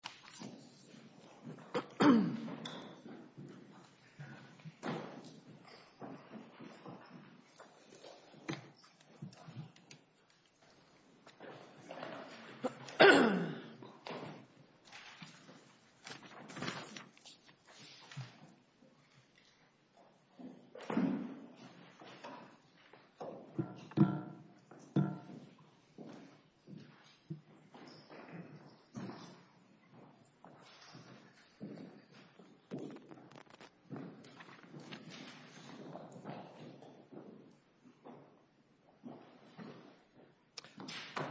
, Inc. v. OGD Equipment Company, Inc. v. OGD Equipment Company, Inc. v. OGD Equipment Company, Inc.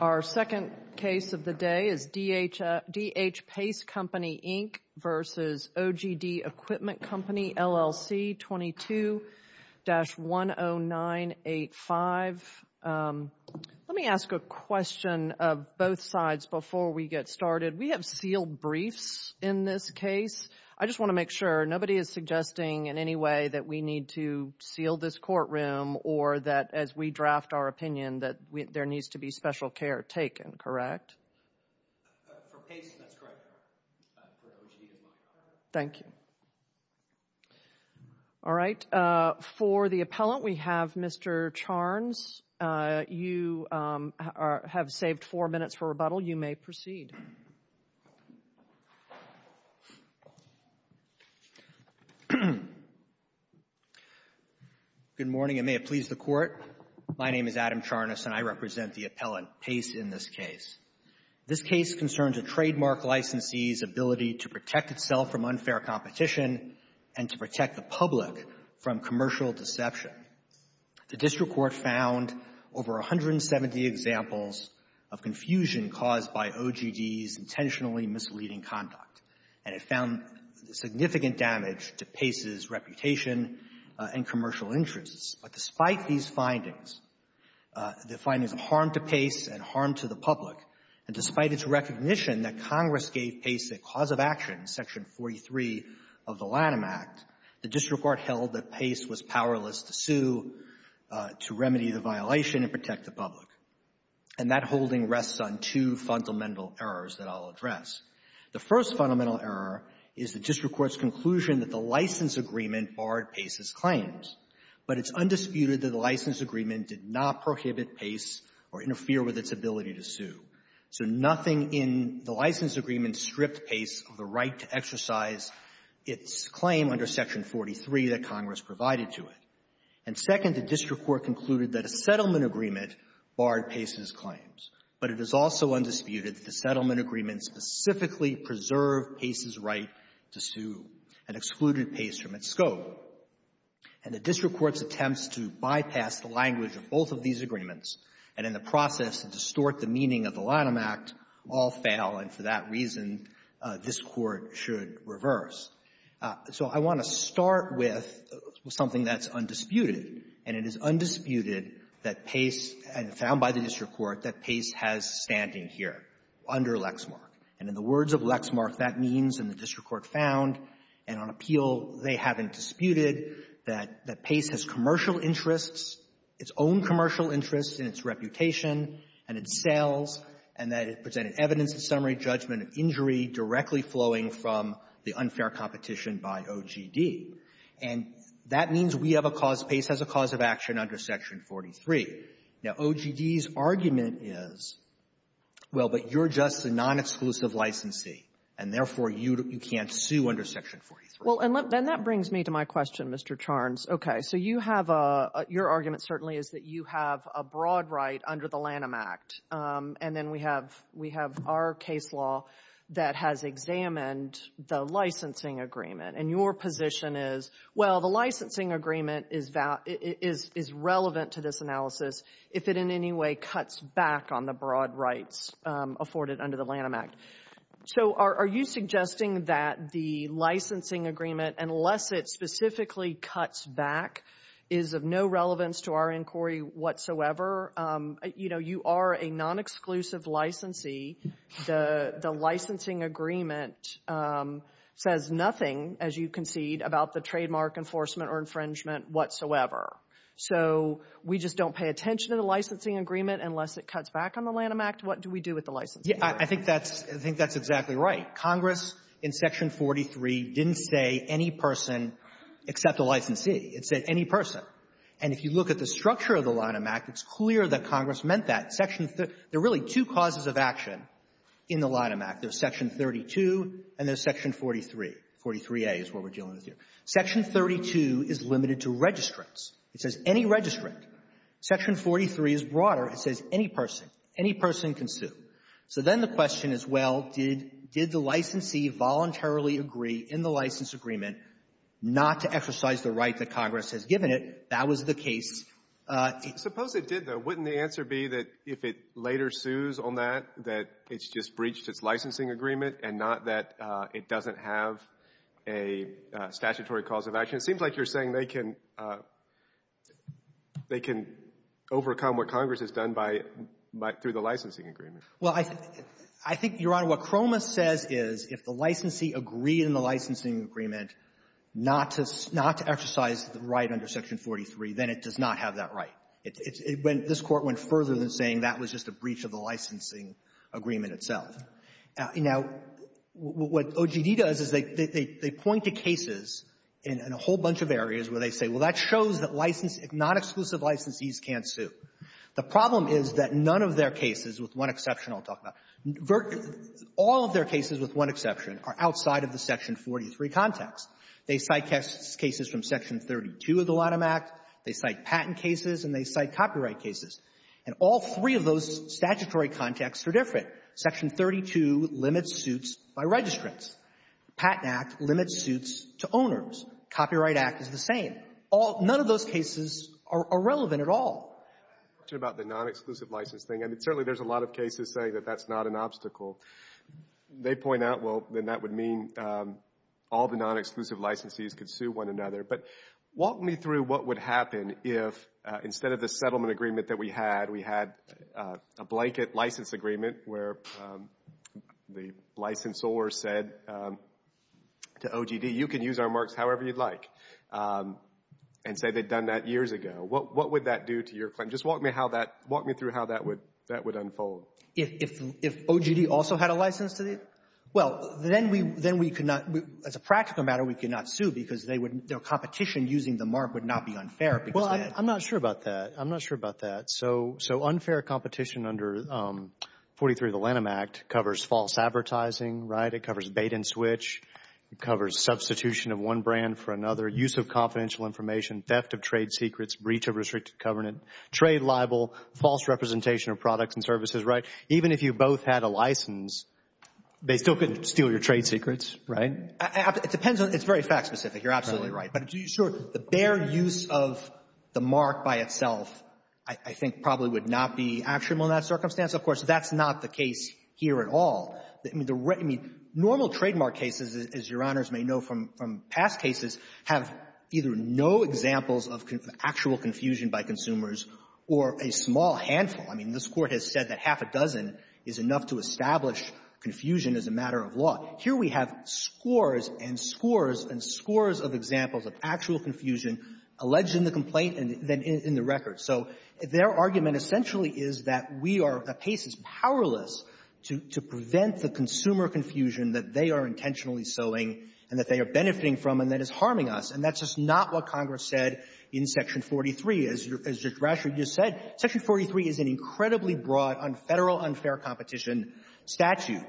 Our second case of the day is D.H. Pace Company, Inc. v. OGD Equipment Company, LLC, 22-10985. Let me ask a question of both sides before we get started. We have sealed briefs in this case. I just want to make sure nobody is suggesting in any way that we need to seal this courtroom or that as we draft our opinion that there needs to be special care taken, correct? For Pace, that's correct. Thank you. All right. For the appellant, we have Mr. Charns. You have saved four minutes for rebuttal. You may proceed. Good morning. It may have pleased the Court. My name is Adam Charnas, and I represent the appellant, Pace, in this case. This case concerns a trademark licensee's ability to protect itself from unfair competition and to protect the public from commercial deception. The district court found over 170 examples of confusion caused by OGD's intentionally misleading conduct, and it found significant damage to Pace's reputation and commercial interests. But despite these findings, the findings of harm to Pace and harm to the public, and despite its recognition that Congress gave Pace a cause of action, Section 43 of the Lanham Act, the district court held that Pace was powerless to sue to remedy the violation and protect the public. And that holding rests on two fundamental errors that I'll address. The first fundamental error is the district court's conclusion that the license agreement barred Pace's claims. But it's undisputed that the license agreement did not prohibit Pace or interfere with its ability to sue. So nothing in the license agreement stripped Pace of the right to exercise its claim under Section 43 that Congress provided to it. And second, the district court concluded that a settlement agreement barred Pace's claims. But it is also undisputed that the settlement agreement specifically preserved Pace's right to sue and excluded Pace from its scope. And the district court's attempts to bypass the language of both of these agreements and, in the process, to distort the meaning of the Lanham Act all fail. And for that reason, this Court should reverse. So I want to start with something that's undisputed. And it is undisputed that Pace, and found by the district court, that Pace has standing here under Lexmark. And in the words of Lexmark, that means, and the district court found, and on appeal, they haven't disputed, that Pace has commercial interests, its own commercial interests, and its reputation, and its sales, and that it presented evidence of summary judgment of injury directly flowing from the unfair competition by OGD. And that means we have a cause, Pace has a cause of action under Section 43. Now, OGD's argument is, well, but you're just a non-exclusive licensee, and therefore, you can't sue under Section 43. Well, and that brings me to my question, Mr. Charns. Okay. So you have a, your argument certainly is that you have a broad right under the Lanham Act. And then we have our case law that has examined the licensing agreement. And your position is, well, the licensing agreement is relevant to this analysis if it in any way cuts back on the broad rights afforded under the Lanham Act. So are you suggesting that the licensing agreement, unless it specifically cuts back, is of no relevance to our inquiry whatsoever? You know, you are a non-exclusive licensee. The licensing agreement says nothing, as you concede, about the trademark enforcement or infringement whatsoever. So we just don't pay attention to the licensing agreement unless it cuts back on the Lanham Act? What do we do with the licensing agreement? I think that's exactly right. Congress in Section 43 didn't say any person except a licensee. It said any person. And if you look at the structure of the Lanham Act, it's clear that Congress meant that. Section 30 — there are really two causes of action in the Lanham Act. There's Section 32 and there's Section 43. 43a is what we're dealing with here. Section 32 is limited to registrants. It says any registrant. Section 43 is broader. It says any person. Any person can sue. So then the question is, well, did the licensee voluntarily agree in the license agreement not to exercise the right that Congress has given it? That was the case. Suppose it did, though. Wouldn't the answer be that if it later sues on that, that it's just breached its licensing agreement and not that it doesn't have a statutory cause of action? It seems like you're saying they can — they can overcome what Congress has done by — through the licensing agreement. Well, I think, Your Honor, what Croma says is if the licensee agreed in the licensing agreement not to — not to exercise the right under Section 43, then it does not have that right. It's — when this Court went further than saying that was just a breach of the licensing agreement itself. Now, what OGD does is they — they point to cases in a whole bunch of areas where they say, well, that shows that license — non-exclusive licensees can't sue. The problem is that none of their cases, with one exception I'll talk about — all of their cases with one exception are outside of the Section 43 context. They cite cases from Section 32 of the Lanham Act. They cite patent cases, and they cite copyright cases. And all three of those statutory contexts are different. Section 32 limits suits by registrants. The Patent Act limits suits to owners. The Copyright Act is the same. All — none of those cases are relevant at all. The question about the non-exclusive license thing, I mean, certainly there's a lot of cases saying that that's not an obstacle. They point out, well, then that would mean all the non-exclusive licensees could sue one another. But walk me through what would happen if, instead of the settlement agreement that we had, we had a blanket license agreement where the licensor said to OGD, you can use our marks however you'd like, and say they'd done that years ago. What would that do to your claim? Just walk me how that — walk me through how that would — that would unfold. If OGD also had a license to the — well, then we — then we could not — as a practical matter, we could not sue because they would — their competition using the mark would not be unfair because they had — I'm not sure about that. I'm not sure about that. So — so unfair competition under 43 of the Lanham Act covers false advertising, right? It covers bait and switch. It covers substitution of one brand for another. Use of confidential information, theft of trade secrets, breach of restricted covenant, trade libel, false representation of products and services, right? Even if you both had a license, they still couldn't steal your trade secrets, right? It depends on — it's very fact-specific. You're absolutely right. But do you — sure. The bare use of the mark by itself, I think, probably would not be actionable in that circumstance. Of course, that's not the case here at all. I mean, the — I mean, normal trademark cases, as Your Honors may know from — from past cases, have either no examples of actual confusion by consumers or a small handful. I mean, this Court has said that half a dozen is enough to establish confusion as a matter of law. Here we have scores and scores and scores of examples of actual confusion alleged in the complaint and in the record. So their argument essentially is that we are a case that's powerless to — to prevent the consumer confusion that they are intentionally sowing and that they are benefiting from and that is harming us. And that's just not what Congress said in Section 43. As — as Judge Rauscher just said, Section 43 is an incredibly broad on Federal unfair competition statute.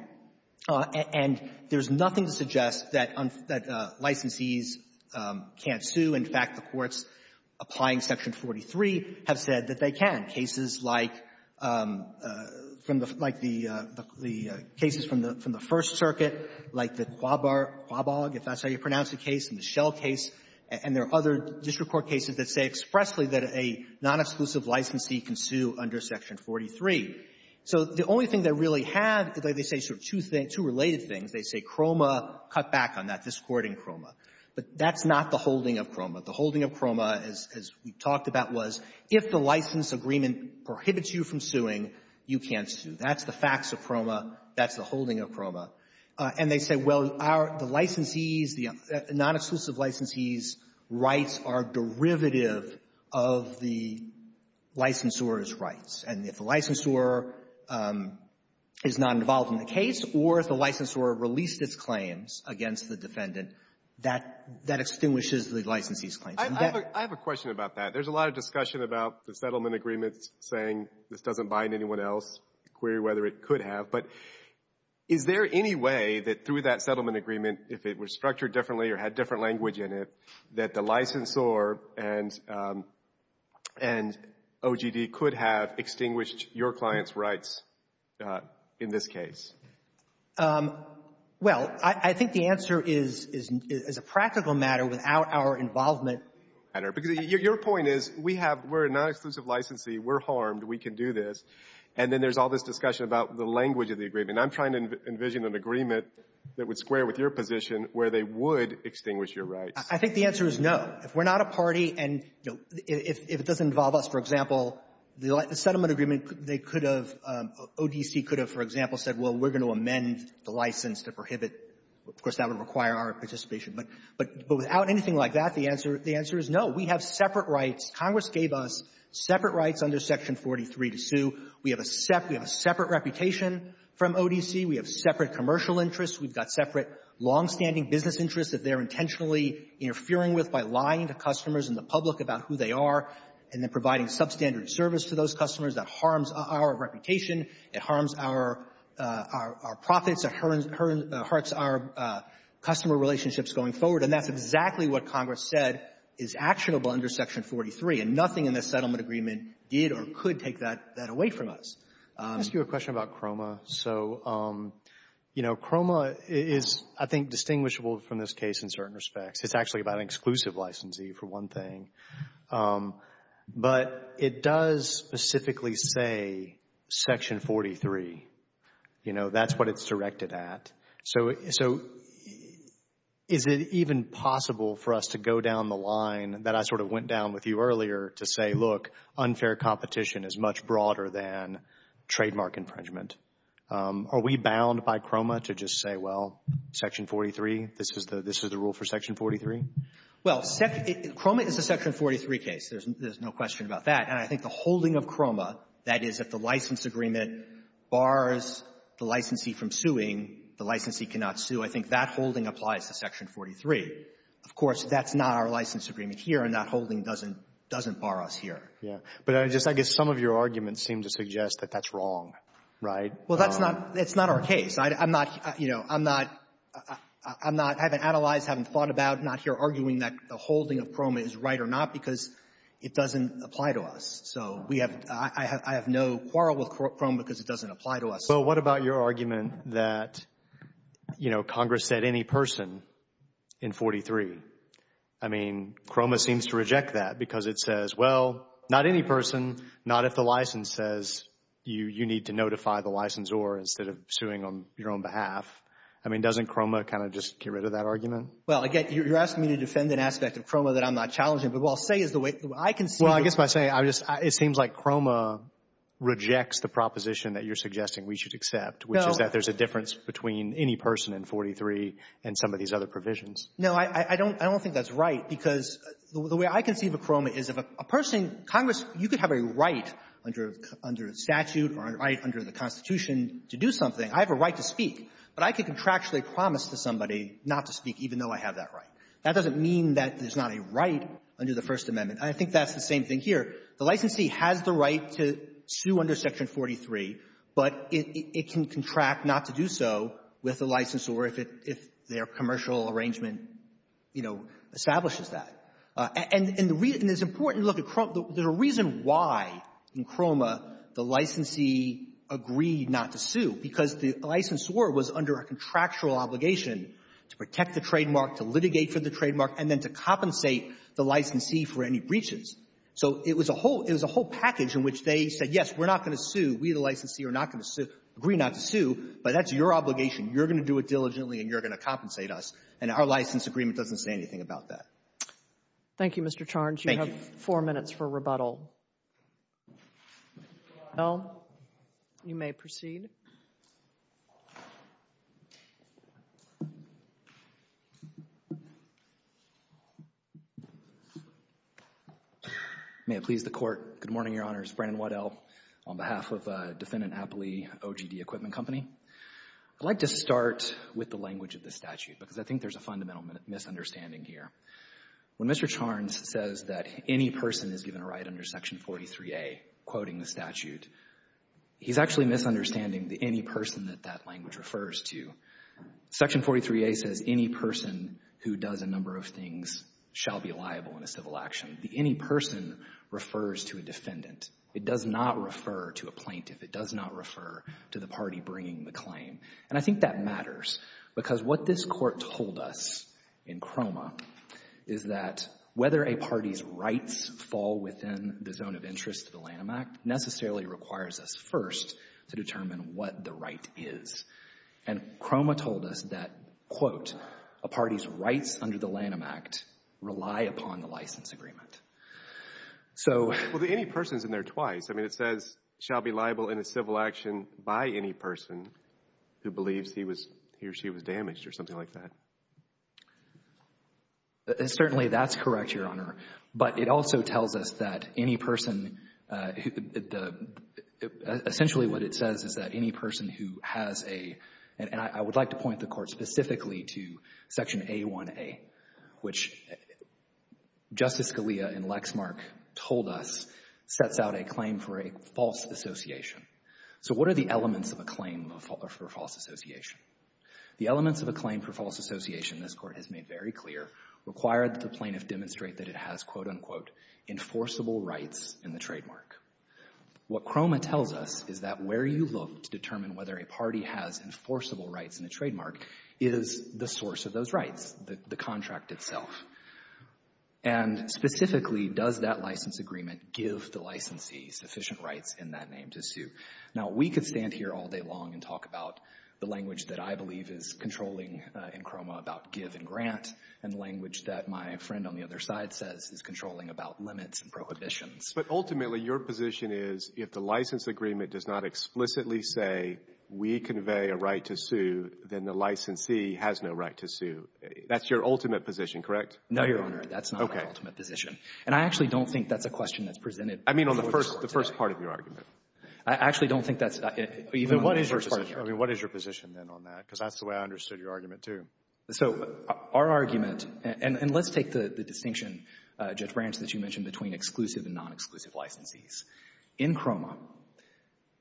And there's nothing to suggest that un — that licensees can't sue. In fact, the courts applying Section 43 have said that they can. Cases like — from the — like the — the cases from the — from the First Circuit, like the Quabar — Quabog, if that's how you pronounce the case, and the Shell case, and there are other district court cases that say expressly that a non-exclusive licensee can sue under Section 43. So the only thing they really have, they say, sort of two things, two related things. They say Kroma cut back on that, this court in Kroma. But that's not the holding of Kroma. The holding of Kroma, as — as we talked about, was if the license agreement prohibits you from suing, you can't sue. That's the facts of Kroma. That's the holding of Kroma. And they say, well, our — the licensees, the non-exclusive licensees' rights are derivative of the — of the licensor's rights. And if the licensor is not involved in the case or if the licensor released its claims against the defendant, that — that extinguishes the licensee's claims. And that — Rosenkranz. I have a question about that. There's a lot of discussion about the settlement agreements saying this doesn't bind anyone else, query whether it could have. differently or had different language in it, that the licensor and — and OGD could have extinguished your client's rights in this case. Well, I — I think the answer is — is a practical matter without our involvement. Because your point is we have — we're a non-exclusive licensee. We're harmed. We can do this. And then there's all this discussion about the language of the agreement. I'm trying to envision an agreement that would square with your position where they would extinguish your rights. I think the answer is no. If we're not a party and, you know, if — if it doesn't involve us, for example, the settlement agreement, they could have — ODC could have, for example, said, well, we're going to amend the license to prohibit — of course, that would require our participation. But — but without anything like that, the answer — the answer is no. We have separate rights. Congress gave us separate rights under Section 43 to sue. We have a separate — we have a separate reputation from ODC. We have separate commercial interests. We've got separate longstanding business interests that they're intentionally interfering with by lying to customers and the public about who they are, and then providing substandard service to those customers. That harms our reputation. It harms our — our profits. It hurts our customer relationships going forward. And that's exactly what Congress said is actionable under Section 43. And nothing in this settlement agreement did or could take that — that away from us. I'll ask you a question about CROMA. So, you know, CROMA is, I think, distinguishable from this case in certain respects. It's actually about an exclusive licensee, for one thing. But it does specifically say Section 43. You know, that's what it's directed at. So — so is it even possible for us to go down the line that I sort of went down with you earlier to say, look, unfair competition is much broader than trademark infringement? Are we bound by CROMA to just say, well, Section 43, this is the — this is the rule for Section 43? Well, CROMA is a Section 43 case. There's no question about that. And I think the holding of CROMA, that is, if the license agreement bars the licensee from suing, the licensee cannot sue, I think that holding applies to Section 43. Of course, that's not our license agreement here, and that holding doesn't — doesn't bar us here. Yeah. But I just — I guess some of your arguments seem to suggest that that's wrong, right? Well, that's not — that's not our case. I'm not — you know, I'm not — I'm not — I haven't analyzed, haven't thought about, not here arguing that the holding of CROMA is right or not because it doesn't apply to us. So we have — I have no quarrel with CROMA because it doesn't apply to us. Well, what about your argument that, you know, Congress said any person in 43? I mean, CROMA seems to reject that because it says, well, not any person, not if the license says you need to notify the licensor instead of suing on your own behalf. I mean, doesn't CROMA kind of just get rid of that argument? Well, again, you're asking me to defend an aspect of CROMA that I'm not challenging, but what I'll say is the way — the way I consider — Well, I guess what I'm saying, I just — it seems like CROMA rejects the proposition that you're suggesting we should accept, which is that there's a difference between any person in 43 and some of these other provisions. No. I don't — I don't think that's right because the way I conceive of CROMA is if a person — Congress, you could have a right under — under statute or a right under the Constitution to do something. I have a right to speak, but I could contractually promise to somebody not to speak even though I have that right. That doesn't mean that there's not a right under the First Amendment. And I think that's the same thing here. The licensee has the right to sue under Section 43, but it can contract not to do so with the licensor if it — if their commercial arrangement, you know, establishes that. And the reason — and it's important to look at CROMA — there's a reason why in CROMA the licensee agreed not to sue, because the licensor was under a contractual obligation to protect the trademark, to litigate for the trademark, and then to compensate the licensee for any breaches. So it was a whole — it was a whole package in which they said, yes, we're not going to sue. We, the licensee, are not going to sue — agree not to sue, but that's your obligation. You're going to do it diligently, and you're going to compensate us. And our license agreement doesn't say anything about that. Thank you, Mr. Charns. Thank you. You have four minutes for rebuttal. Mr. Waddell, you may proceed. May it please the Court. Good morning, Your Honors. Brandon Waddell on behalf of Defendant Appley, OGD Equipment Company. I'd like to start with the language of the statute, because I think there's a fundamental misunderstanding here. When Mr. Charns says that any person is given a right under Section 43A, quoting the statute, he's actually misunderstanding the any person that that language refers to. Section 43A says any person who does a number of things shall be liable in a civil action. The any person refers to a defendant. It does not refer to a plaintiff. It does not refer to the party bringing the claim. And I think that matters, because what this Court told us in Croma is that whether a party's rights fall within the zone of interest of the Lanham Act necessarily requires us first to determine what the right is. And Croma told us that, quote, a party's rights under the Lanham Act rely upon the license agreement. So — Well, the any person is in there twice. I mean, it says shall be liable in a civil action by any person who believes he was — he or she was damaged or something like that. Certainly, that's correct, Your Honor. But it also tells us that any person — essentially, what it says is that any person who has a — and I would like to point the Court specifically to Section A1A, which Justice Scalia in Lexmark told us sets out a claim for a false association. So what are the elements of a claim for a false association? The elements of a claim for a false association, this Court has made very clear, require that the plaintiff demonstrate that it has, quote, unquote, enforceable rights in the trademark. What Croma tells us is that where you look to determine whether a party has enforceable rights in a trademark is the source of those rights, the contract itself. And specifically, does that license agreement give the licensee sufficient rights in that name to sue? Now, we could stand here all day long and talk about the language that I believe is controlling in Croma about give and grant and the language that my friend on the other side says is controlling about limits and prohibitions. But ultimately, your position is if the license agreement does not explicitly say we convey a right to sue, then the licensee has no right to sue. That's your ultimate position, correct? No, Your Honor. That's not my ultimate position. And I actually don't think that's a question that's presented before this Court. I mean, on the first part of your argument. I actually don't think that's even on the first part of your argument. What is your position, then, on that? Because that's the way I understood your argument, too. So our argument, and let's take the distinction, Judge Branch, that you mentioned between exclusive and non-exclusive licensees. In Croma,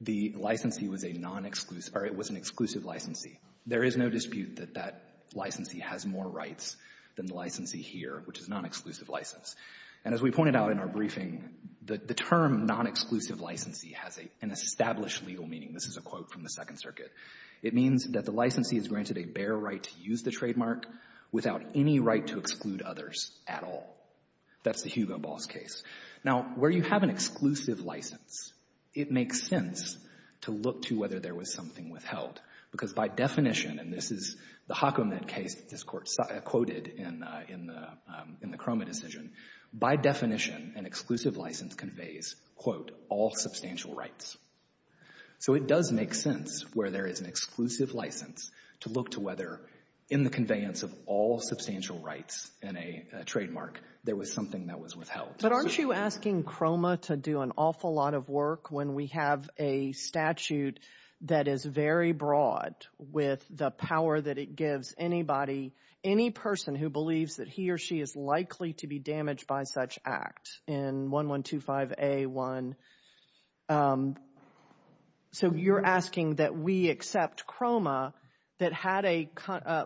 the licensee was a non-exclusive or it was an exclusive licensee. There is no dispute that that licensee has more rights than the licensee here, which is non-exclusive license. And as we pointed out in our briefing, the term non-exclusive licensee has an established legal meaning. This is a quote from the Second Circuit. It means that the licensee is granted a bare right to use the trademark without any right to exclude others at all. That's the Hugo Boss case. Now, where you have an exclusive license, it makes sense to look to whether there was something withheld, because by definition, and this is the Hockerman case that this court quoted in the Croma decision, by definition, an exclusive license conveys, quote, all substantial rights. So it does make sense where there is an exclusive license to look to whether, in the conveyance of all substantial rights and a trademark, there was something that was withheld. But aren't you asking Croma to do an awful lot of work when we have a statute that is very broad with the power that it gives anybody, any person who believes that he or she is likely to be damaged by such act in 1125A1? So you're asking that we accept Croma that had a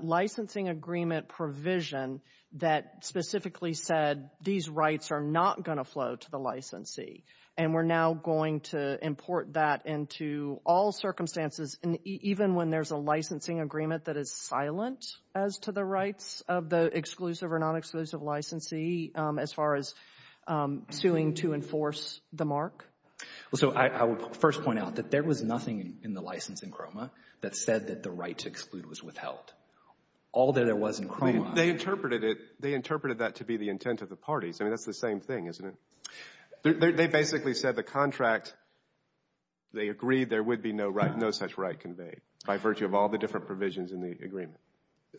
licensing agreement provision that specifically said these rights are not going to flow to the licensee, and we're now going to import that into all circumstances, even when there's a licensing agreement that is silent as to the rights of the exclusive or non-exclusive licensee as far as suing to enforce the mark? Well, so I would first point out that there was nothing in the license in Croma that said that the right to exclude was withheld. All that there was in Croma... But they interpreted it, they interpreted that to be the intent of the parties. I mean, that's the same thing, isn't it? They basically said the contract, they agreed there would be no right, no such right conveyed by virtue of all the different provisions in the agreement.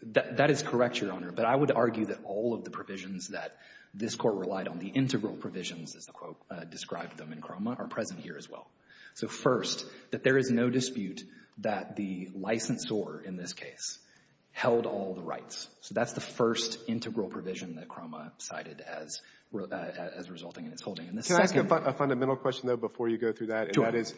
That is correct, Your Honor. But I would argue that all of the provisions that this Court relied on, the integral provisions, as the Quote described them in Croma, are present here as well. So first, that there is no dispute that the licensor in this case held all the rights. So that's the first integral provision that Croma cited as resulting in its holding. And the second... Can I ask a fundamental question, though, before you go through that? Sure. And that is,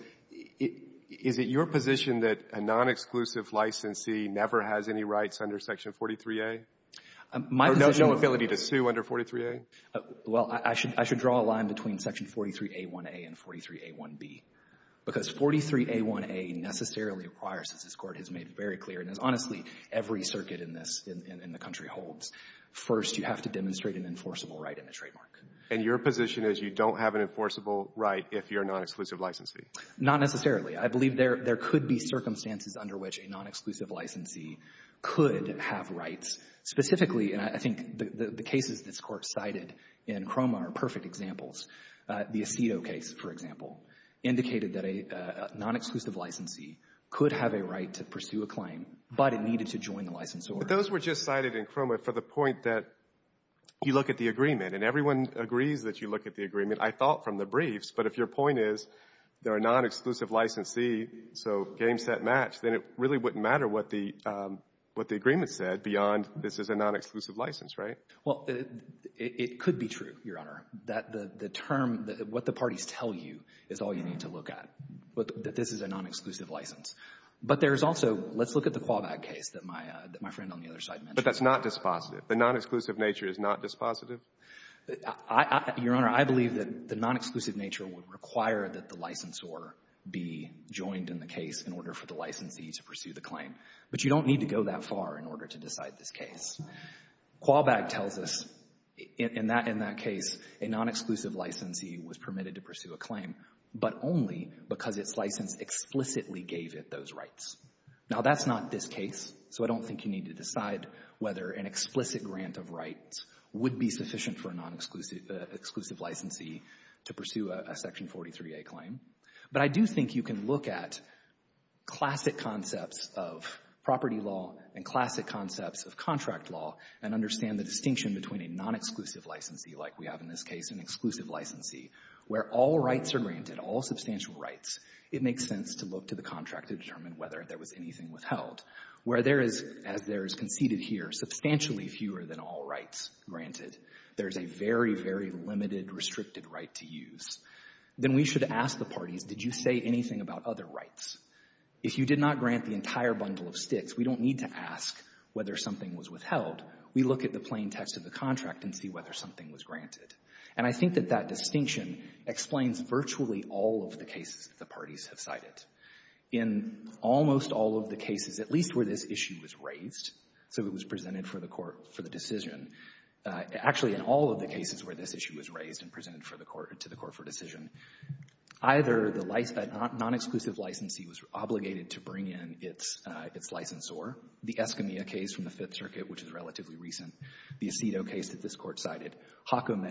is it your position that a non-exclusive licensee never has any rights under Section 43A? My position... Or has no ability to sue under 43A? Well, I should draw a line between Section 43A1A and 43A1B, because 43A1A necessarily requires, as this Court has made very clear, and there's honestly every circuit in this in the country holds, first you have to demonstrate an enforceable right in the trademark. And your position is you don't have an enforceable right if you're a non-exclusive licensee? Not necessarily. I believe there could be circumstances under which a non-exclusive licensee could have rights. Specifically, and I think the cases this Court cited in Croma are perfect examples. The Acido case, for example, indicated that a non-exclusive licensee could have a right to pursue a claim, but it needed to join the license order. But those were just cited in Croma for the point that you look at the agreement, and everyone agrees that you look at the agreement, I thought, from the briefs. But if your point is they're a non-exclusive licensee, so game, set, match, then it really wouldn't matter what the agreement said beyond this is a non-exclusive license, right? Well, it could be true, Your Honor, that the term, what the parties tell you is all you need to look at, that this is a non-exclusive license. But there's also, let's look at the Quabag case that my friend on the other side mentioned. But that's not dispositive. The non-exclusive nature is not dispositive? Your Honor, I believe that the non-exclusive nature would require that the licensor be joined in the case in order for the licensee to pursue the claim. But you don't need to go that far in order to decide this case. Quabag tells us in that case a non-exclusive licensee was permitted to pursue a claim, but only because its license explicitly gave it those rights. Now, that's not this case. So I don't think you need to decide whether an explicit grant of rights would be sufficient for a non-exclusive licensee to pursue a Section 43a claim. But I do think you can look at classic concepts of property law and classic concepts of contract law and understand the distinction between a non-exclusive licensee, like we have in this case an exclusive licensee, where all rights are granted, all substantial rights. It makes sense to look to the contract to determine whether there was anything withheld. Where there is, as there is conceded here, substantially fewer than all rights granted, there's a very, very limited, restricted right to use. Then we should ask the parties, did you say anything about other rights? If you did not grant the entire bundle of sticks, we don't need to ask whether something was withheld. We look at the plain text of the contract and see whether something was granted. And I think that that distinction explains virtually all of the cases that the parties have cited. In almost all of the cases, at least where this issue was raised, so it was presented for the court for the decision, actually, in all of the cases where this issue was raised and presented to the court for decision, either the non-exclusive licensee was obligated to bring in its licensor, the Escamilla case from the Fifth Circuit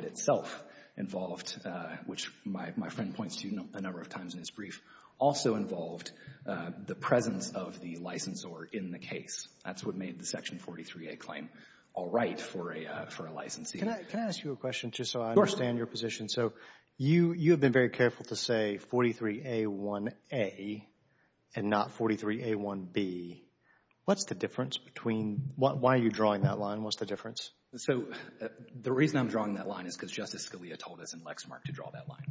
itself involved, which my friend points to a number of times in his brief, also involved the presence of the licensor in the case. That's what made the Section 43A claim all right for a licensee. Can I ask you a question just so I understand your position? Sure. So you have been very careful to say 43A1A and not 43A1B. What's the difference between, why are you drawing that line? What's the difference? So the reason I'm drawing that line is because Justice Scalia told us in Lexmark to draw that line.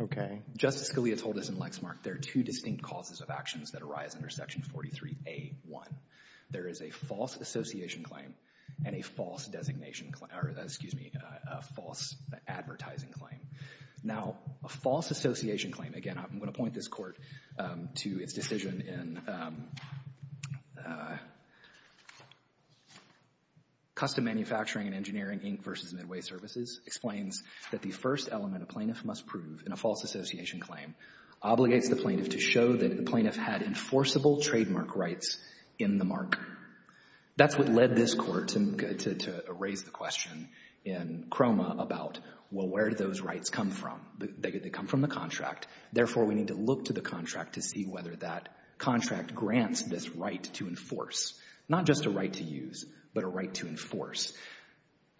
Okay. Justice Scalia told us in Lexmark there are two distinct causes of actions that arise under Section 43A1. There is a false association claim and a false designation or, excuse me, a false advertising claim. Now, a false association claim, again, I'm going to point this Court to its decision in Custom Manufacturing and Engineering, Inc. v. Midway Services, explains that the first element a plaintiff must prove in a false association claim obligates the plaintiff to show that the plaintiff had enforceable trademark rights in the mark. That's what led this Court to raise the question in Croma about, well, where do those rights come from? They come from the contract. Therefore, we need to look to the contract to see whether that contract grants this right to enforce. Not just a right to use, but a right to enforce.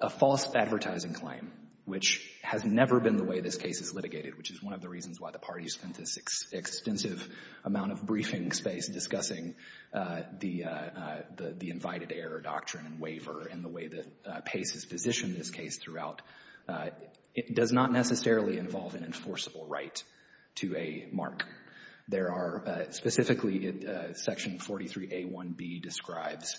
A false advertising claim, which has never been the way this case is litigated, which is one of the reasons why the parties spent this extensive amount of briefing space discussing the invited error doctrine and waiver and the way that Pace has positioned this case throughout, does not necessarily involve an enforceable right. To a mark. There are specifically Section 43A1B describes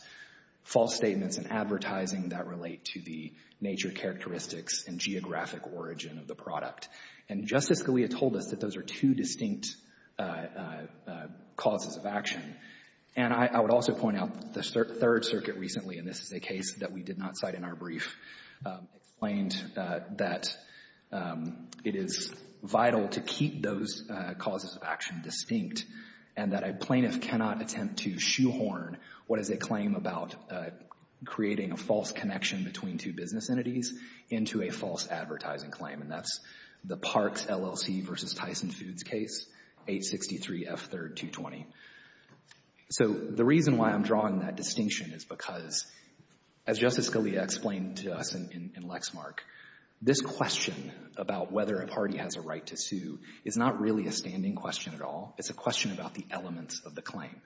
false statements and advertising that relate to the nature, characteristics, and geographic origin of the product. And Justice Scalia told us that those are two distinct causes of action. And I would also point out the Third Circuit recently, and this is a case that we did not cite in our brief, explained that it is vital to keep those causes of action distinct and that a plaintiff cannot attempt to shoehorn what is a claim about creating a false connection between two business entities into a false advertising claim. And that's the Parks LLC v. Tyson Foods case, 863 F. 3rd 220. So the reason why I'm drawing that distinction is because, as Justice Scalia explained to us in Lexmark, this question about whether a party has a right to sue is not really a standing question at all. It's a question about the elements of the claim.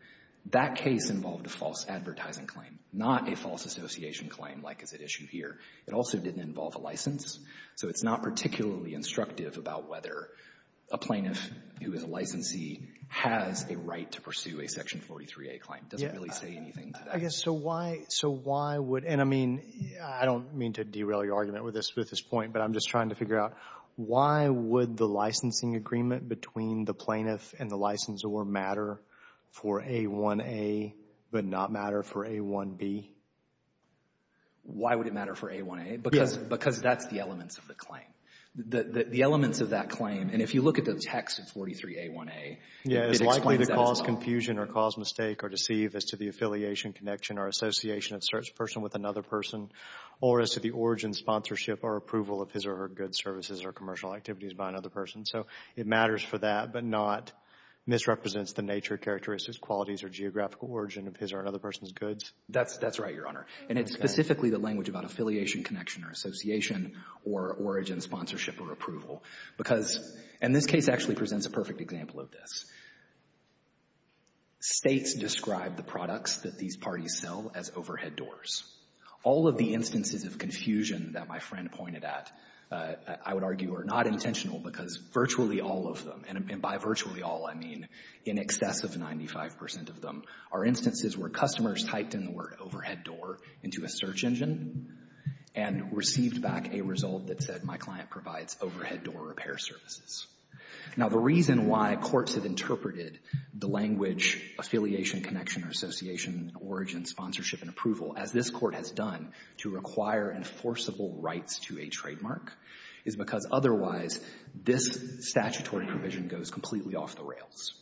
That case involved a false advertising claim, not a false association claim like is at issue here. It also didn't involve a license. So it's not particularly instructive about whether a plaintiff who is a licensee has a right to pursue a Section 43A claim. It doesn't really say anything to that. I guess, so why would, and I mean, I don't mean to derail your argument with this point, but I'm just trying to figure out, why would the licensing agreement between the plaintiff and the licensor matter for A1A but not matter for A1B? Why would it matter for A1A? Because that's the elements of the claim. The elements of that claim, and if you look at the text of 43A1A. Yeah, it's likely to cause confusion or cause mistake or deceive as to the affiliation, connection, or association of such person with another person or as to the origin, sponsorship, or approval of his or her goods, services, or commercial activities by another person. So it matters for that but not misrepresents the nature, characteristics, qualities, or geographical origin of his or another person's goods. That's right, Your Honor. And it's specifically the language about affiliation, connection, or association, or origin, sponsorship, or approval. Because, and this case actually presents a perfect example of this. States describe the products that these parties sell as overhead doors. All of the instances of confusion that my friend pointed at, I would argue, are not intentional because virtually all of them, and by virtually all, I mean in excess of 95% of them, are instances where customers typed in the word overhead door into a search engine and received back a result that said my client provides overhead door repair services. Now, the reason why courts have interpreted the language affiliation, connection, or association, origin, sponsorship, and approval as this Court has done to require enforceable rights to a trademark is because otherwise this statutory provision goes completely off the rails.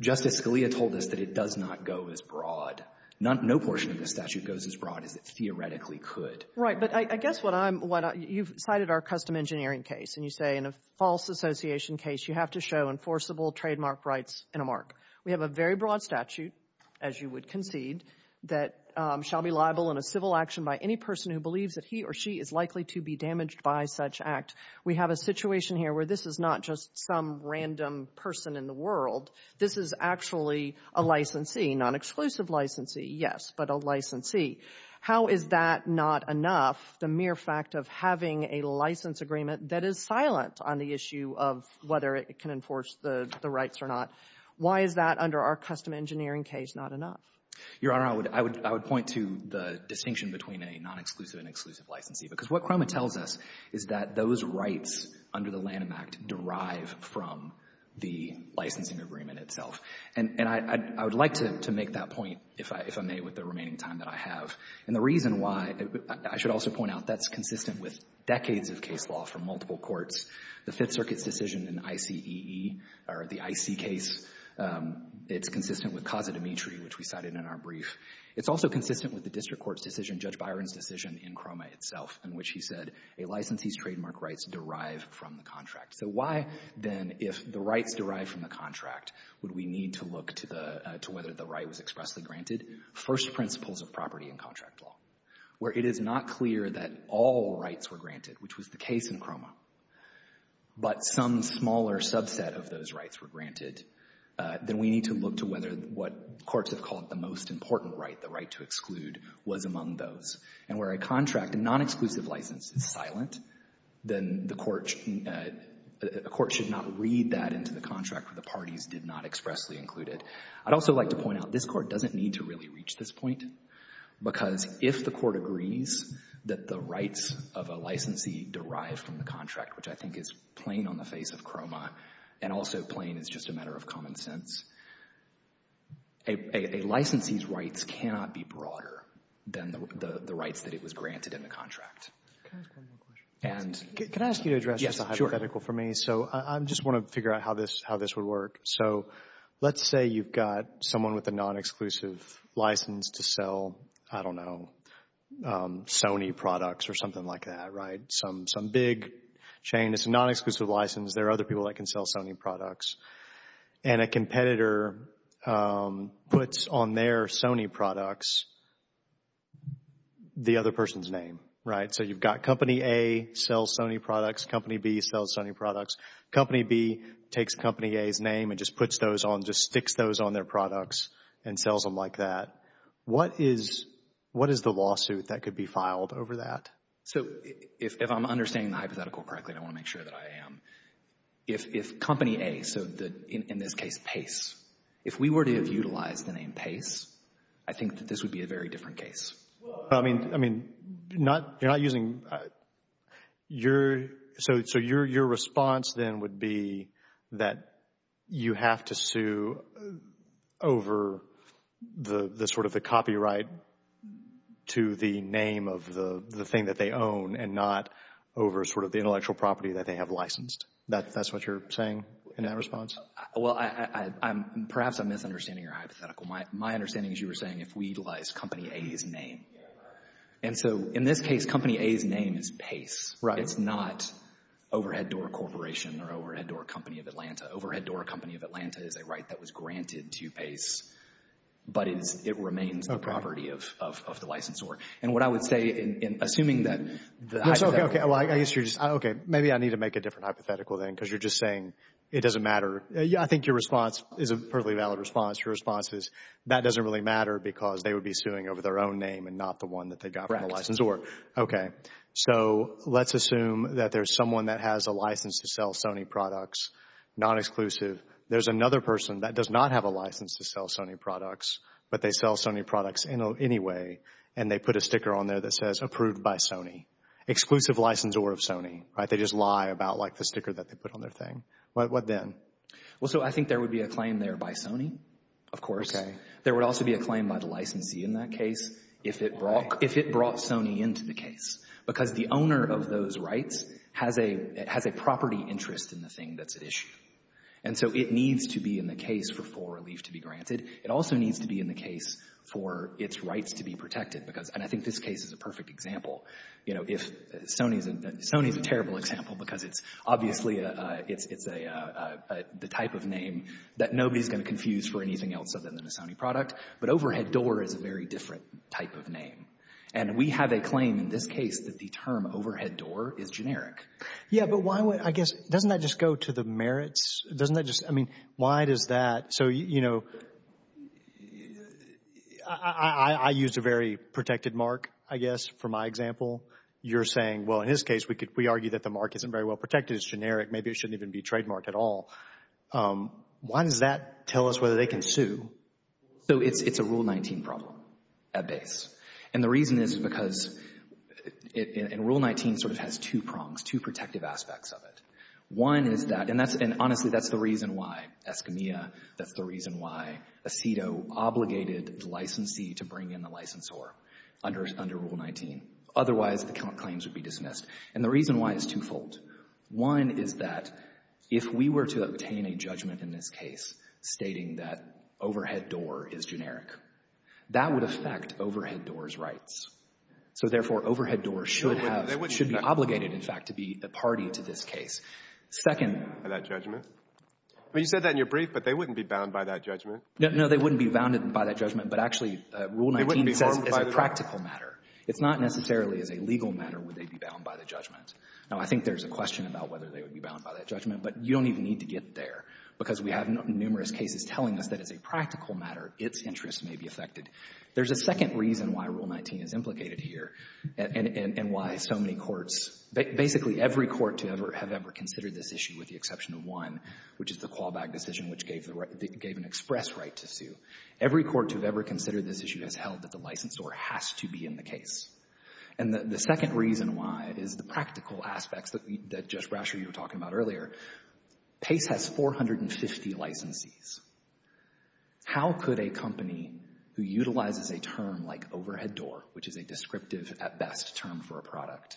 Justice Scalia told us that it does not go as broad, no portion of the statute goes as broad as it theoretically could. Right. But I guess what I'm, what you've cited our custom engineering case, and you say in a false association case you have to show enforceable trademark rights in a mark. We have a very broad statute, as you would concede, that shall be liable in a civil action by any person who believes that he or she is likely to be damaged by such act. We have a situation here where this is not just some random person in the world. This is actually a licensee, non-exclusive licensee. Yes, but a licensee. How is that not enough, the mere fact of having a license agreement that is silent on the issue of whether it can enforce the rights or not? Why is that under our custom engineering case not enough? Your Honor, I would point to the distinction between a non-exclusive and exclusive licensee, because what Croma tells us is that those rights under the Lanham Act derive from the licensing agreement itself. And I would like to make that point if I may with the remaining time that I have. And the reason why, I should also point out, that's consistent with decades of case law from multiple courts. The Fifth Circuit's decision in ICEE or the ICEE case, it's consistent with Casa Dimitri, which we cited in our brief. It's also consistent with the district court's decision, Judge Byron's decision in Croma itself, in which he said a licensee's trademark rights derive from the contract. So why, then, if the rights derive from the contract, would we need to look to the to whether the right was expressly granted? First principles of property and contract law, where it is not clear that all rights were granted, which was the case in Croma, but some smaller subset of those rights were granted, then we need to look to whether what courts have called the most important right, the right to exclude, was among those. And where a contract, a non-exclusive license, is silent, then the court should not read that into the contract where the parties did not expressly include it. I'd also like to point out, this Court doesn't need to really reach this point, because if the Court agrees that the rights of a licensee derived from the contract, which I think is plain on the face of Croma, and also plain as just a matter of common rights that it was granted in the contract. Can I ask one more question? Can I ask you to address this hypothetical for me? So I just want to figure out how this would work. So let's say you've got someone with a non-exclusive license to sell, I don't know, Sony products or something like that, right? Some big chain, it's a non-exclusive license. There are other people that can sell Sony products. And a competitor puts on their Sony products the other person's name, right? So you've got Company A sells Sony products, Company B sells Sony products. Company B takes Company A's name and just puts those on, just sticks those on their products and sells them like that. What is, what is the lawsuit that could be filed over that? So if I'm understanding the hypothetical correctly, I want to make sure that I am. If Company A, so in this case Pace, if we were to have utilized the name Pace, I think that this would be a very different case. I mean, I mean, not, you're not using, you're, so your response then would be that you have to sue over the sort of the copyright to the name of the thing that they own and not over sort of the intellectual property that they have licensed. That, that's what you're saying in that response? Well, I'm, perhaps I'm misunderstanding your hypothetical. My understanding is you were saying if we utilize Company A's name. And so in this case, Company A's name is Pace. Right. It's not Overhead Door Corporation or Overhead Door Company of Atlanta. Overhead Door Company of Atlanta is a right that was granted to Pace, but it remains the property of the licensor. And what I would say in assuming that... Okay. Well, I guess you're just, okay. Maybe I need to make a different hypothetical then, because you're just saying it doesn't matter. I think your response is a perfectly valid response. Your response is that doesn't really matter because they would be suing over their own name and not the one that they got from the licensor. Okay. So let's assume that there's someone that has a license to sell Sony products, non-exclusive. There's another person that does not have a license to sell Sony products, but they sell Sony products in any way. And they put a sticker on there that says approved by Sony. Exclusive licensor of Sony, right? They just lie about like the sticker that they put on their thing. What then? Well, so I think there would be a claim there by Sony, of course. Okay. There would also be a claim by the licensee in that case if it brought Sony into the case. Because the owner of those rights has a property interest in the thing that's at issue. And so it needs to be in the case for full relief to be granted. It also needs to be in the case for its rights to be protected. Because, and I think this case is a perfect example. You know, if Sony is a terrible example because it's obviously the type of name that nobody's going to confuse for anything else other than a Sony product. But overhead door is a very different type of name. And we have a claim in this case that the term overhead door is generic. Yeah. But why would, I guess, doesn't that just go to the merits? Doesn't that just, I mean, why does that? So, you know, I used a very protected mark, I guess, for my example. You're saying, well, in this case, we could, we argue that the mark isn't very well protected. It's generic. Maybe it shouldn't even be trademarked at all. Why does that tell us whether they can sue? So it's a Rule 19 problem at base. And the reason is because, and Rule 19 sort of has two prongs, two protective aspects of it. One is that, and that's, and honestly, that's the reason why Escamilla, that's the reason why Aceto obligated the licensee to bring in the licensor under Rule 19. Otherwise, account claims would be dismissed. And the reason why is twofold. One is that if we were to obtain a judgment in this case stating that overhead door is generic, that would affect overhead door's rights. So therefore, overhead door should have, should be obligated, in fact, to be a party to this case. Second. By that judgment? I mean, you said that in your brief, but they wouldn't be bound by that judgment. No. No, they wouldn't be bounded by that judgment. But actually, Rule 19 says it's a practical matter. It's not necessarily as a legal matter would they be bound by the judgment. Now, I think there's a question about whether they would be bound by that judgment. But you don't even need to get there because we have numerous cases telling us that as a practical matter, its interest may be affected. There's a second reason why Rule 19 is implicated here and why so many courts, basically every court to ever have ever considered this issue with the exception of one, which is the Qualback decision, which gave the right, gave an express right to sue. Every court to have ever considered this issue has held that the license door has to be in the case. And the second reason why is the practical aspects that we, that, Judge Brasher, you were talking about earlier. Pace has 450 licensees. How could a company who utilizes a term like overhead door, which is a descriptive at best term for a product,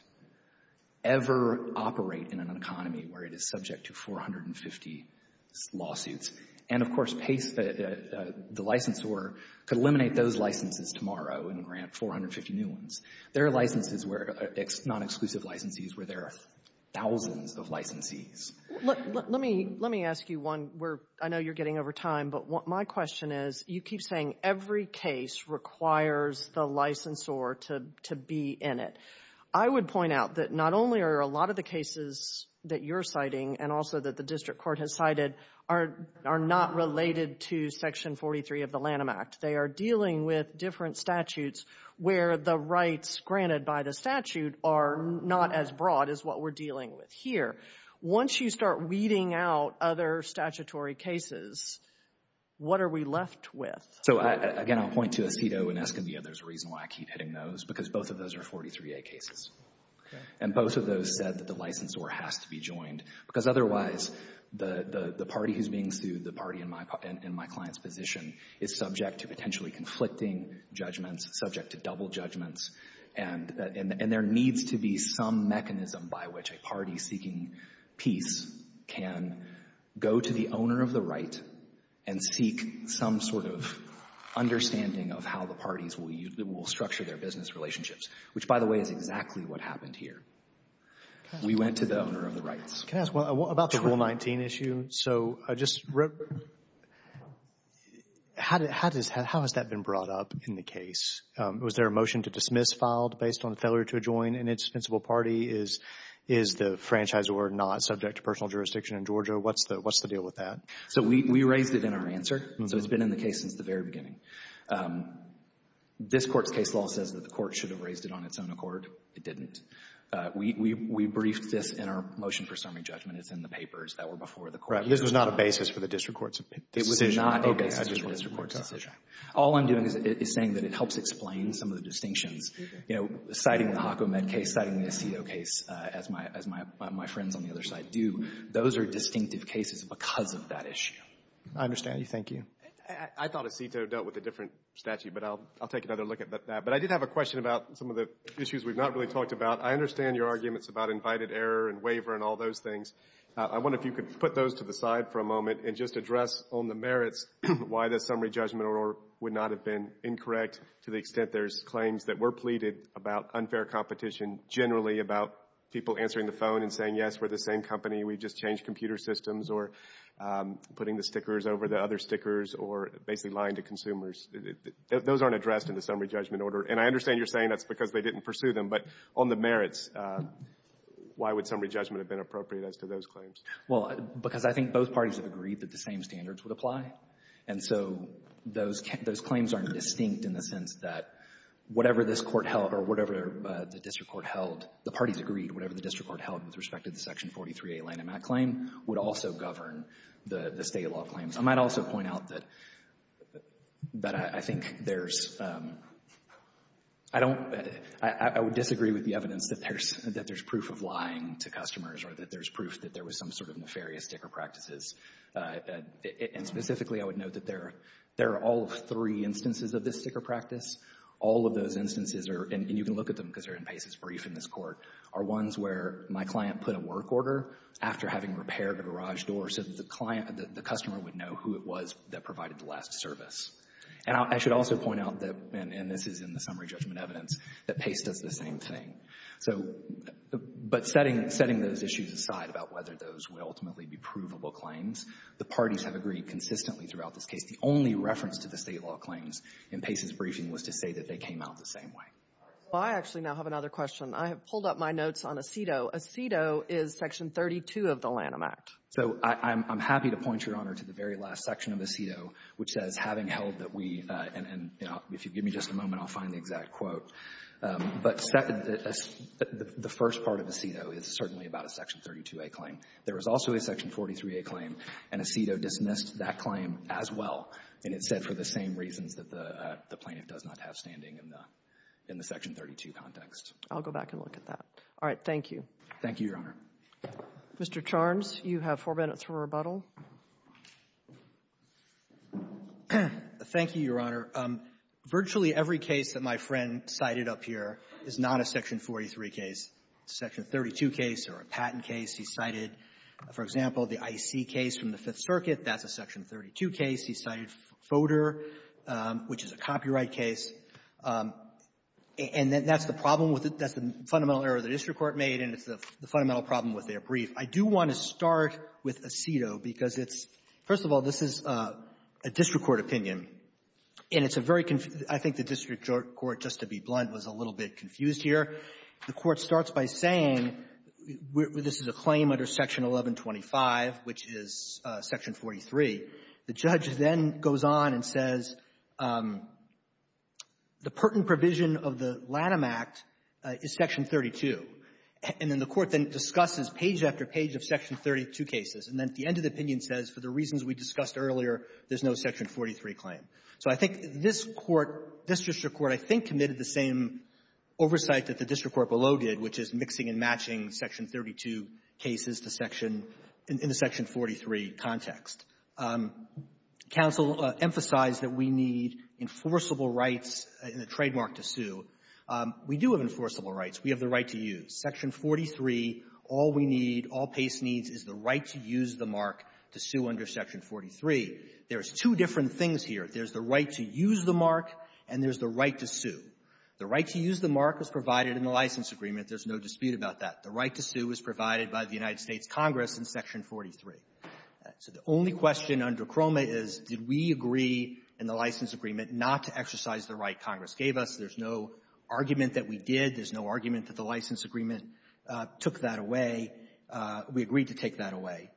ever operate in an economy where it is subject to 450 lawsuits? And, of course, Pace, the license door, could eliminate those licenses tomorrow and grant 450 new ones. There are licenses where, non-exclusive licensees, where there are thousands of licensees. Sotomayor, let me, let me ask you one where I know you're getting over time, but my question is, you keep saying every case requires the license door to, to be in it. I would point out that not only are a lot of the cases that you're citing and also that the district court has cited are, are not related to Section 43 of the Lanham Act. They are dealing with different statutes where the rights granted by the statute are not as broad as what we're dealing with here. Once you start weeding out other statutory cases, what are we left with? So, again, I'll point to Aceto and Escondido. There's a reason why I keep hitting those, because both of those are 43A cases. And both of those said that the license door has to be joined because otherwise the, the, the party who's being sued, the party in my, in my client's position is subject to potentially conflicting judgments, subject to double judgments. And, and, and there needs to be some mechanism by which a party seeking peace can go to the owner of the right and seek some sort of understanding of how the parties will use, will structure their business relationships, which, by the way, is exactly what happened here. We went to the owner of the rights. Can I ask about the Rule 19 issue? So just, how, how does, how has that been brought up in the case? Was there a motion to dismiss filed based on failure to join an indispensable party? Is, is the franchisor not subject to personal jurisdiction in Georgia? What's the, what's the deal with that? So we, we raised it in our answer. So it's been in the case since the very beginning. This court's case law says that the court should have raised it on its own accord. It didn't. We, we, we briefed this in our motion for summary judgment. It's in the papers that were before the court. Right. This was not a basis for the district court's decision. It was not a basis for the district court's decision. All I'm doing is, is saying that it helps explain some of the distinctions. You know, citing the HACO med case, citing the ACETO case, as my, as my, my friends on the other side do, those are distinctive cases because of that issue. I understand you. Thank you. I thought ACETO dealt with a different statute, but I'll, I'll take another look at that. But I did have a question about some of the issues we've not really talked about. I understand your arguments about invited error and waiver and all those things. I wonder if you could put those to the side for a moment and just address on the merits why the summary judgment order would not have been incorrect to the extent there's claims that were pleaded about unfair competition generally about people answering the phone and saying, yes, we're the same company. We just changed computer systems or putting the stickers over the other stickers or basically lying to consumers. Those aren't addressed in the summary judgment order. And I understand you're saying that's because they didn't pursue them. But on the merits, why would summary judgment have been appropriate as to those claims? Well, because I think both parties have agreed that the same standards would apply. And so those, those claims aren't distinct in the sense that whatever this Court held or whatever the district court held, the parties agreed, whatever the district court held with respect to the Section 43A Lanham Act claim would also govern the State law claims. I might also point out that, that I think there's, I don't, I would disagree with the evidence that there's, that there's proof of lying to customers or that there's proof that there was some sort of nefarious sticker practices. And specifically, I would note that there are all of three instances of this sticker practice. All of those instances are, and you can look at them because they're in Pace's brief in this Court, are ones where my client put a work order after having repaired a garage door so that the client, the customer would know who it was that provided the last service. And I should also point out that, and this is in the summary judgment evidence, that Pace does the same thing. So, but setting those issues aside about whether those would ultimately be provable claims, the parties have agreed consistently throughout this case. The only reference to the State law claims in Pace's briefing was to say that they came out the same way. Well, I actually now have another question. I have pulled up my notes on ACETO. ACETO is Section 32 of the Lanham Act. So I'm happy to point, Your Honor, to the very last section of ACETO, which says, having held that we, and if you give me just a moment, I'll find the exact quote. But the first part of ACETO is certainly about a Section 32A claim. There is also a Section 43A claim, and ACETO dismissed that claim as well. And it said for the same reasons that the plaintiff does not have standing in the Section 32 context. I'll go back and look at that. All right. Thank you. Thank you, Your Honor. Mr. Charms, you have four minutes for rebuttal. Thank you, Your Honor. Virtually every case that my friend cited up here is not a Section 43 case. It's a Section 32 case or a patent case. He cited, for example, the IC case from the Fifth Circuit. That's a Section 32 case. He cited Fodor, which is a copyright case. And that's the problem with it. That's the fundamental error the district court made, and it's the fundamental problem with their brief. I do want to start with ACETO because it's — first of all, this is a district court opinion, and it's a very — I think the district court, just to be blunt, was a little bit confused here. The Court starts by saying this is a claim under Section 1125, which is Section 43. The judge then goes on and says the pertinent provision of the Lanham Act is Section 32. And then the Court then discusses page after page of Section 32 cases. And then at the end of the opinion says, for the reasons we discussed earlier, there's no Section 43 claim. So I think this Court — this district court, I think, committed the same oversight that the district court below did, which is mixing and matching Section 32 cases to Section — in the Section 43 context. Counsel emphasized that we need enforceable rights in the trademark to sue. We do have enforceable rights. We have the right to use. Section 43, all we need, all Pace needs, is the right to use the mark to sue under Section 43. There's two different things here. There's the right to use the mark, and there's the right to sue. The right to use the mark is provided in the license agreement. There's no dispute about that. The right to sue is provided by the United States Congress in Section 43. So the only question under Croma is, did we agree in the license agreement not to exercise the right Congress gave us? There's no argument that we did. There's no argument that the license agreement took that away. We agreed to take that away.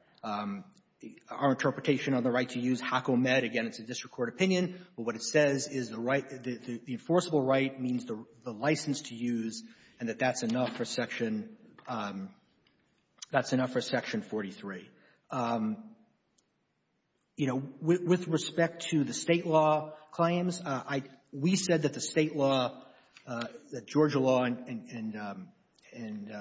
Our interpretation on the right to use, HACO met. Again, it's a district court opinion. But what it says is the right, the enforceable right means the license to use, and that that's enough for Section, that's enough for Section 43. You know, with respect to the State law claims, I, we said that the State law, the Georgia law and, and, and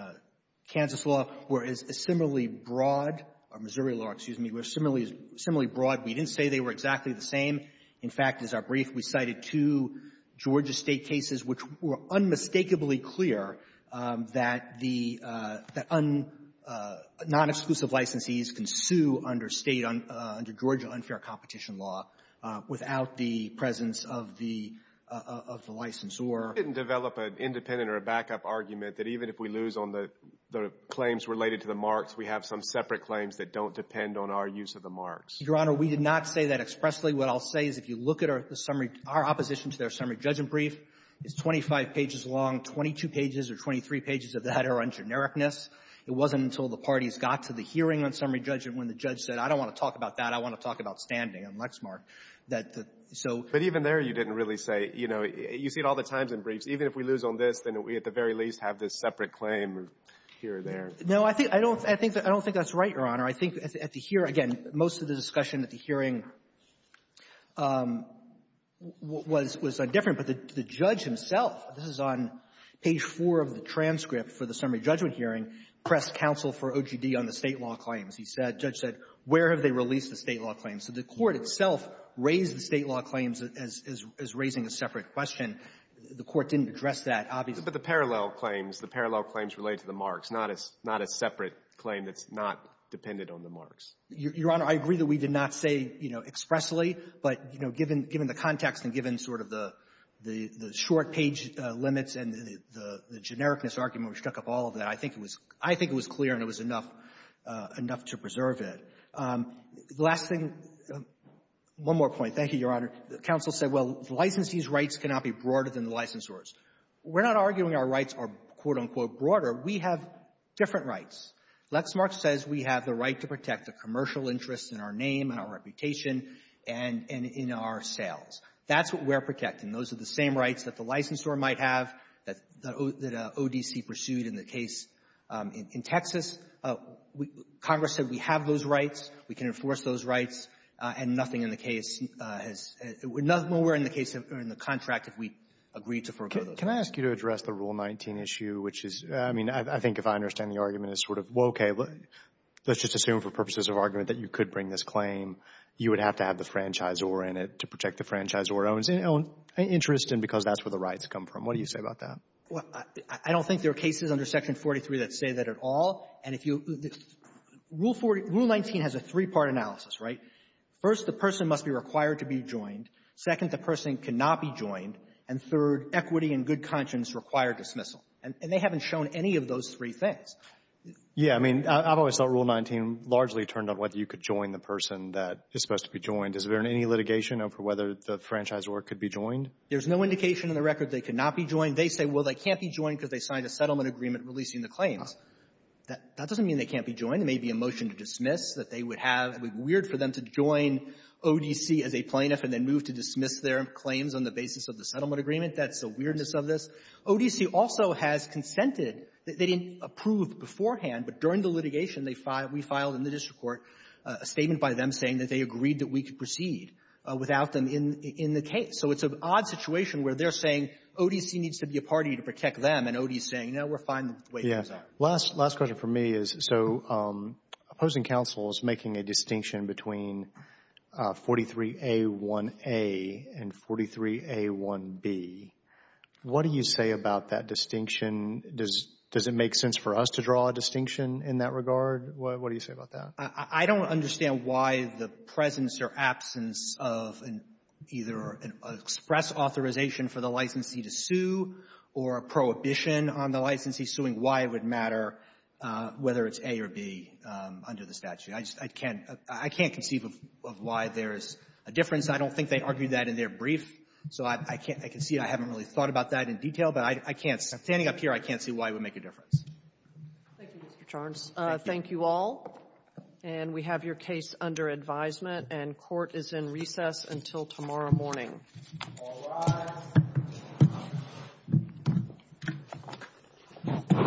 Kansas law were as similarly broad, or Missouri law, excuse me, were similarly, similarly broad. We didn't say they were exactly the same. In fact, as our brief, we cited two Georgia State cases which were unmistakably clear that the, that non-exclusive licensees can sue under State, under Georgia unfair competition law without the presence of the, of the licensor. We didn't develop an independent or a backup argument that even if we lose on the, the claims related to the marks, we have some separate claims that don't depend on our use of the marks. Your Honor, we did not say that expressly. What I'll say is if you look at our summary, our opposition to their summary judgment brief, it's 25 pages long, 22 pages or 23 pages of that are on genericness. It wasn't until the parties got to the hearing on summary judgment when the judge said, I don't want to talk about that, I want to talk about standing on Lexmark, that the, so — But even there, you didn't really say, you know, you see it all the times in briefs. Even if we lose on this, then we at the very least have this separate claim here or there. No. I think, I don't, I think, I don't think that's right, Your Honor. I think at the hearing, again, most of the discussion at the hearing was, was different. But the, the judge himself, this is on page 4 of the transcript for the summary judgment hearing, pressed counsel for OGD on the State law claims. He said, the judge said, where have they released the State law claims? So the Court itself raised the State law claims as, as raising a separate question. The Court didn't address that, obviously. But the parallel claims, the parallel claims related to the marks, not a, not a separate claim that's not dependent on the marks. Your Honor, I agree that we did not say, you know, expressly. But, you know, given, given the context and given sort of the, the, the short-page limits and the, the genericness argument which took up all of that, I think it was — I think it was clear and it was enough, enough to preserve it. The last thing, one more point. Thank you, Your Honor. The counsel said, well, the licensee's rights cannot be broader than the licensor's. We're not arguing our rights are, quote, unquote, broader. We have different rights. Lexmark says we have the right to protect the commercial interests in our name, in our reputation, and in our sales. That's what we're protecting. Those are the same rights that the licensor might have that, that ODC pursued in the case in Texas. Congress said we have those rights. We can enforce those rights. And nothing in the case has — nothing where in the case of, or in the contract if we agreed to forego those rights. Can I ask you to address the Rule 19 issue, which is — I mean, I think if I understand the argument, it's sort of, well, okay, let's just assume for purposes of argument that you could bring this claim. You would have to have the franchisor in it to protect the franchisor's own interest and because that's where the rights come from. What do you say about that? Well, I don't think there are cases under Section 43 that say that at all. And if you — Rule 19 has a three-part analysis, right? First, the person must be required to be joined. Second, the person cannot be joined. And third, equity and good conscience require dismissal. And they haven't shown any of those three things. Yeah. I mean, I've always thought Rule 19 largely turned on whether you could join the person that is supposed to be joined. Is there any litigation over whether the franchisor could be joined? There's no indication in the record they could not be joined. They say, well, they can't be joined because they signed a settlement agreement releasing the claims. That doesn't mean they can't be joined. There may be a motion to dismiss that they would have. It would be weird for them to join ODC as a plaintiff and then move to dismiss their claims on the basis of the settlement agreement. That's the weirdness of this. ODC also has consented. They didn't approve beforehand, but during the litigation, they filed — we filed in the district court a statement by them saying that they agreed that we could proceed without them in the case. So it's an odd situation where they're saying ODC needs to be a party to protect them, and ODC is saying, no, we're fine the way it comes out. Yeah. Last question for me is, so opposing counsel is making a distinction between 43A1A and 43A1B. What do you say about that distinction? Does it make sense for us to draw a distinction in that regard? What do you say about that? I don't understand why the presence or absence of either an express authorization for the licensee to sue or a prohibition on the licensee suing, why it would matter whether it's A or B under the statute. I just — I can't — I can't conceive of why there's a difference. I don't think they argued that in their brief, so I can't — I can see I haven't really thought about that in detail, but I can't — standing up here, I can't see why it would make a difference. Thank you, Mr. Charns. Thank you all. And we have your case under advisement, and court is in recess until tomorrow morning. All rise.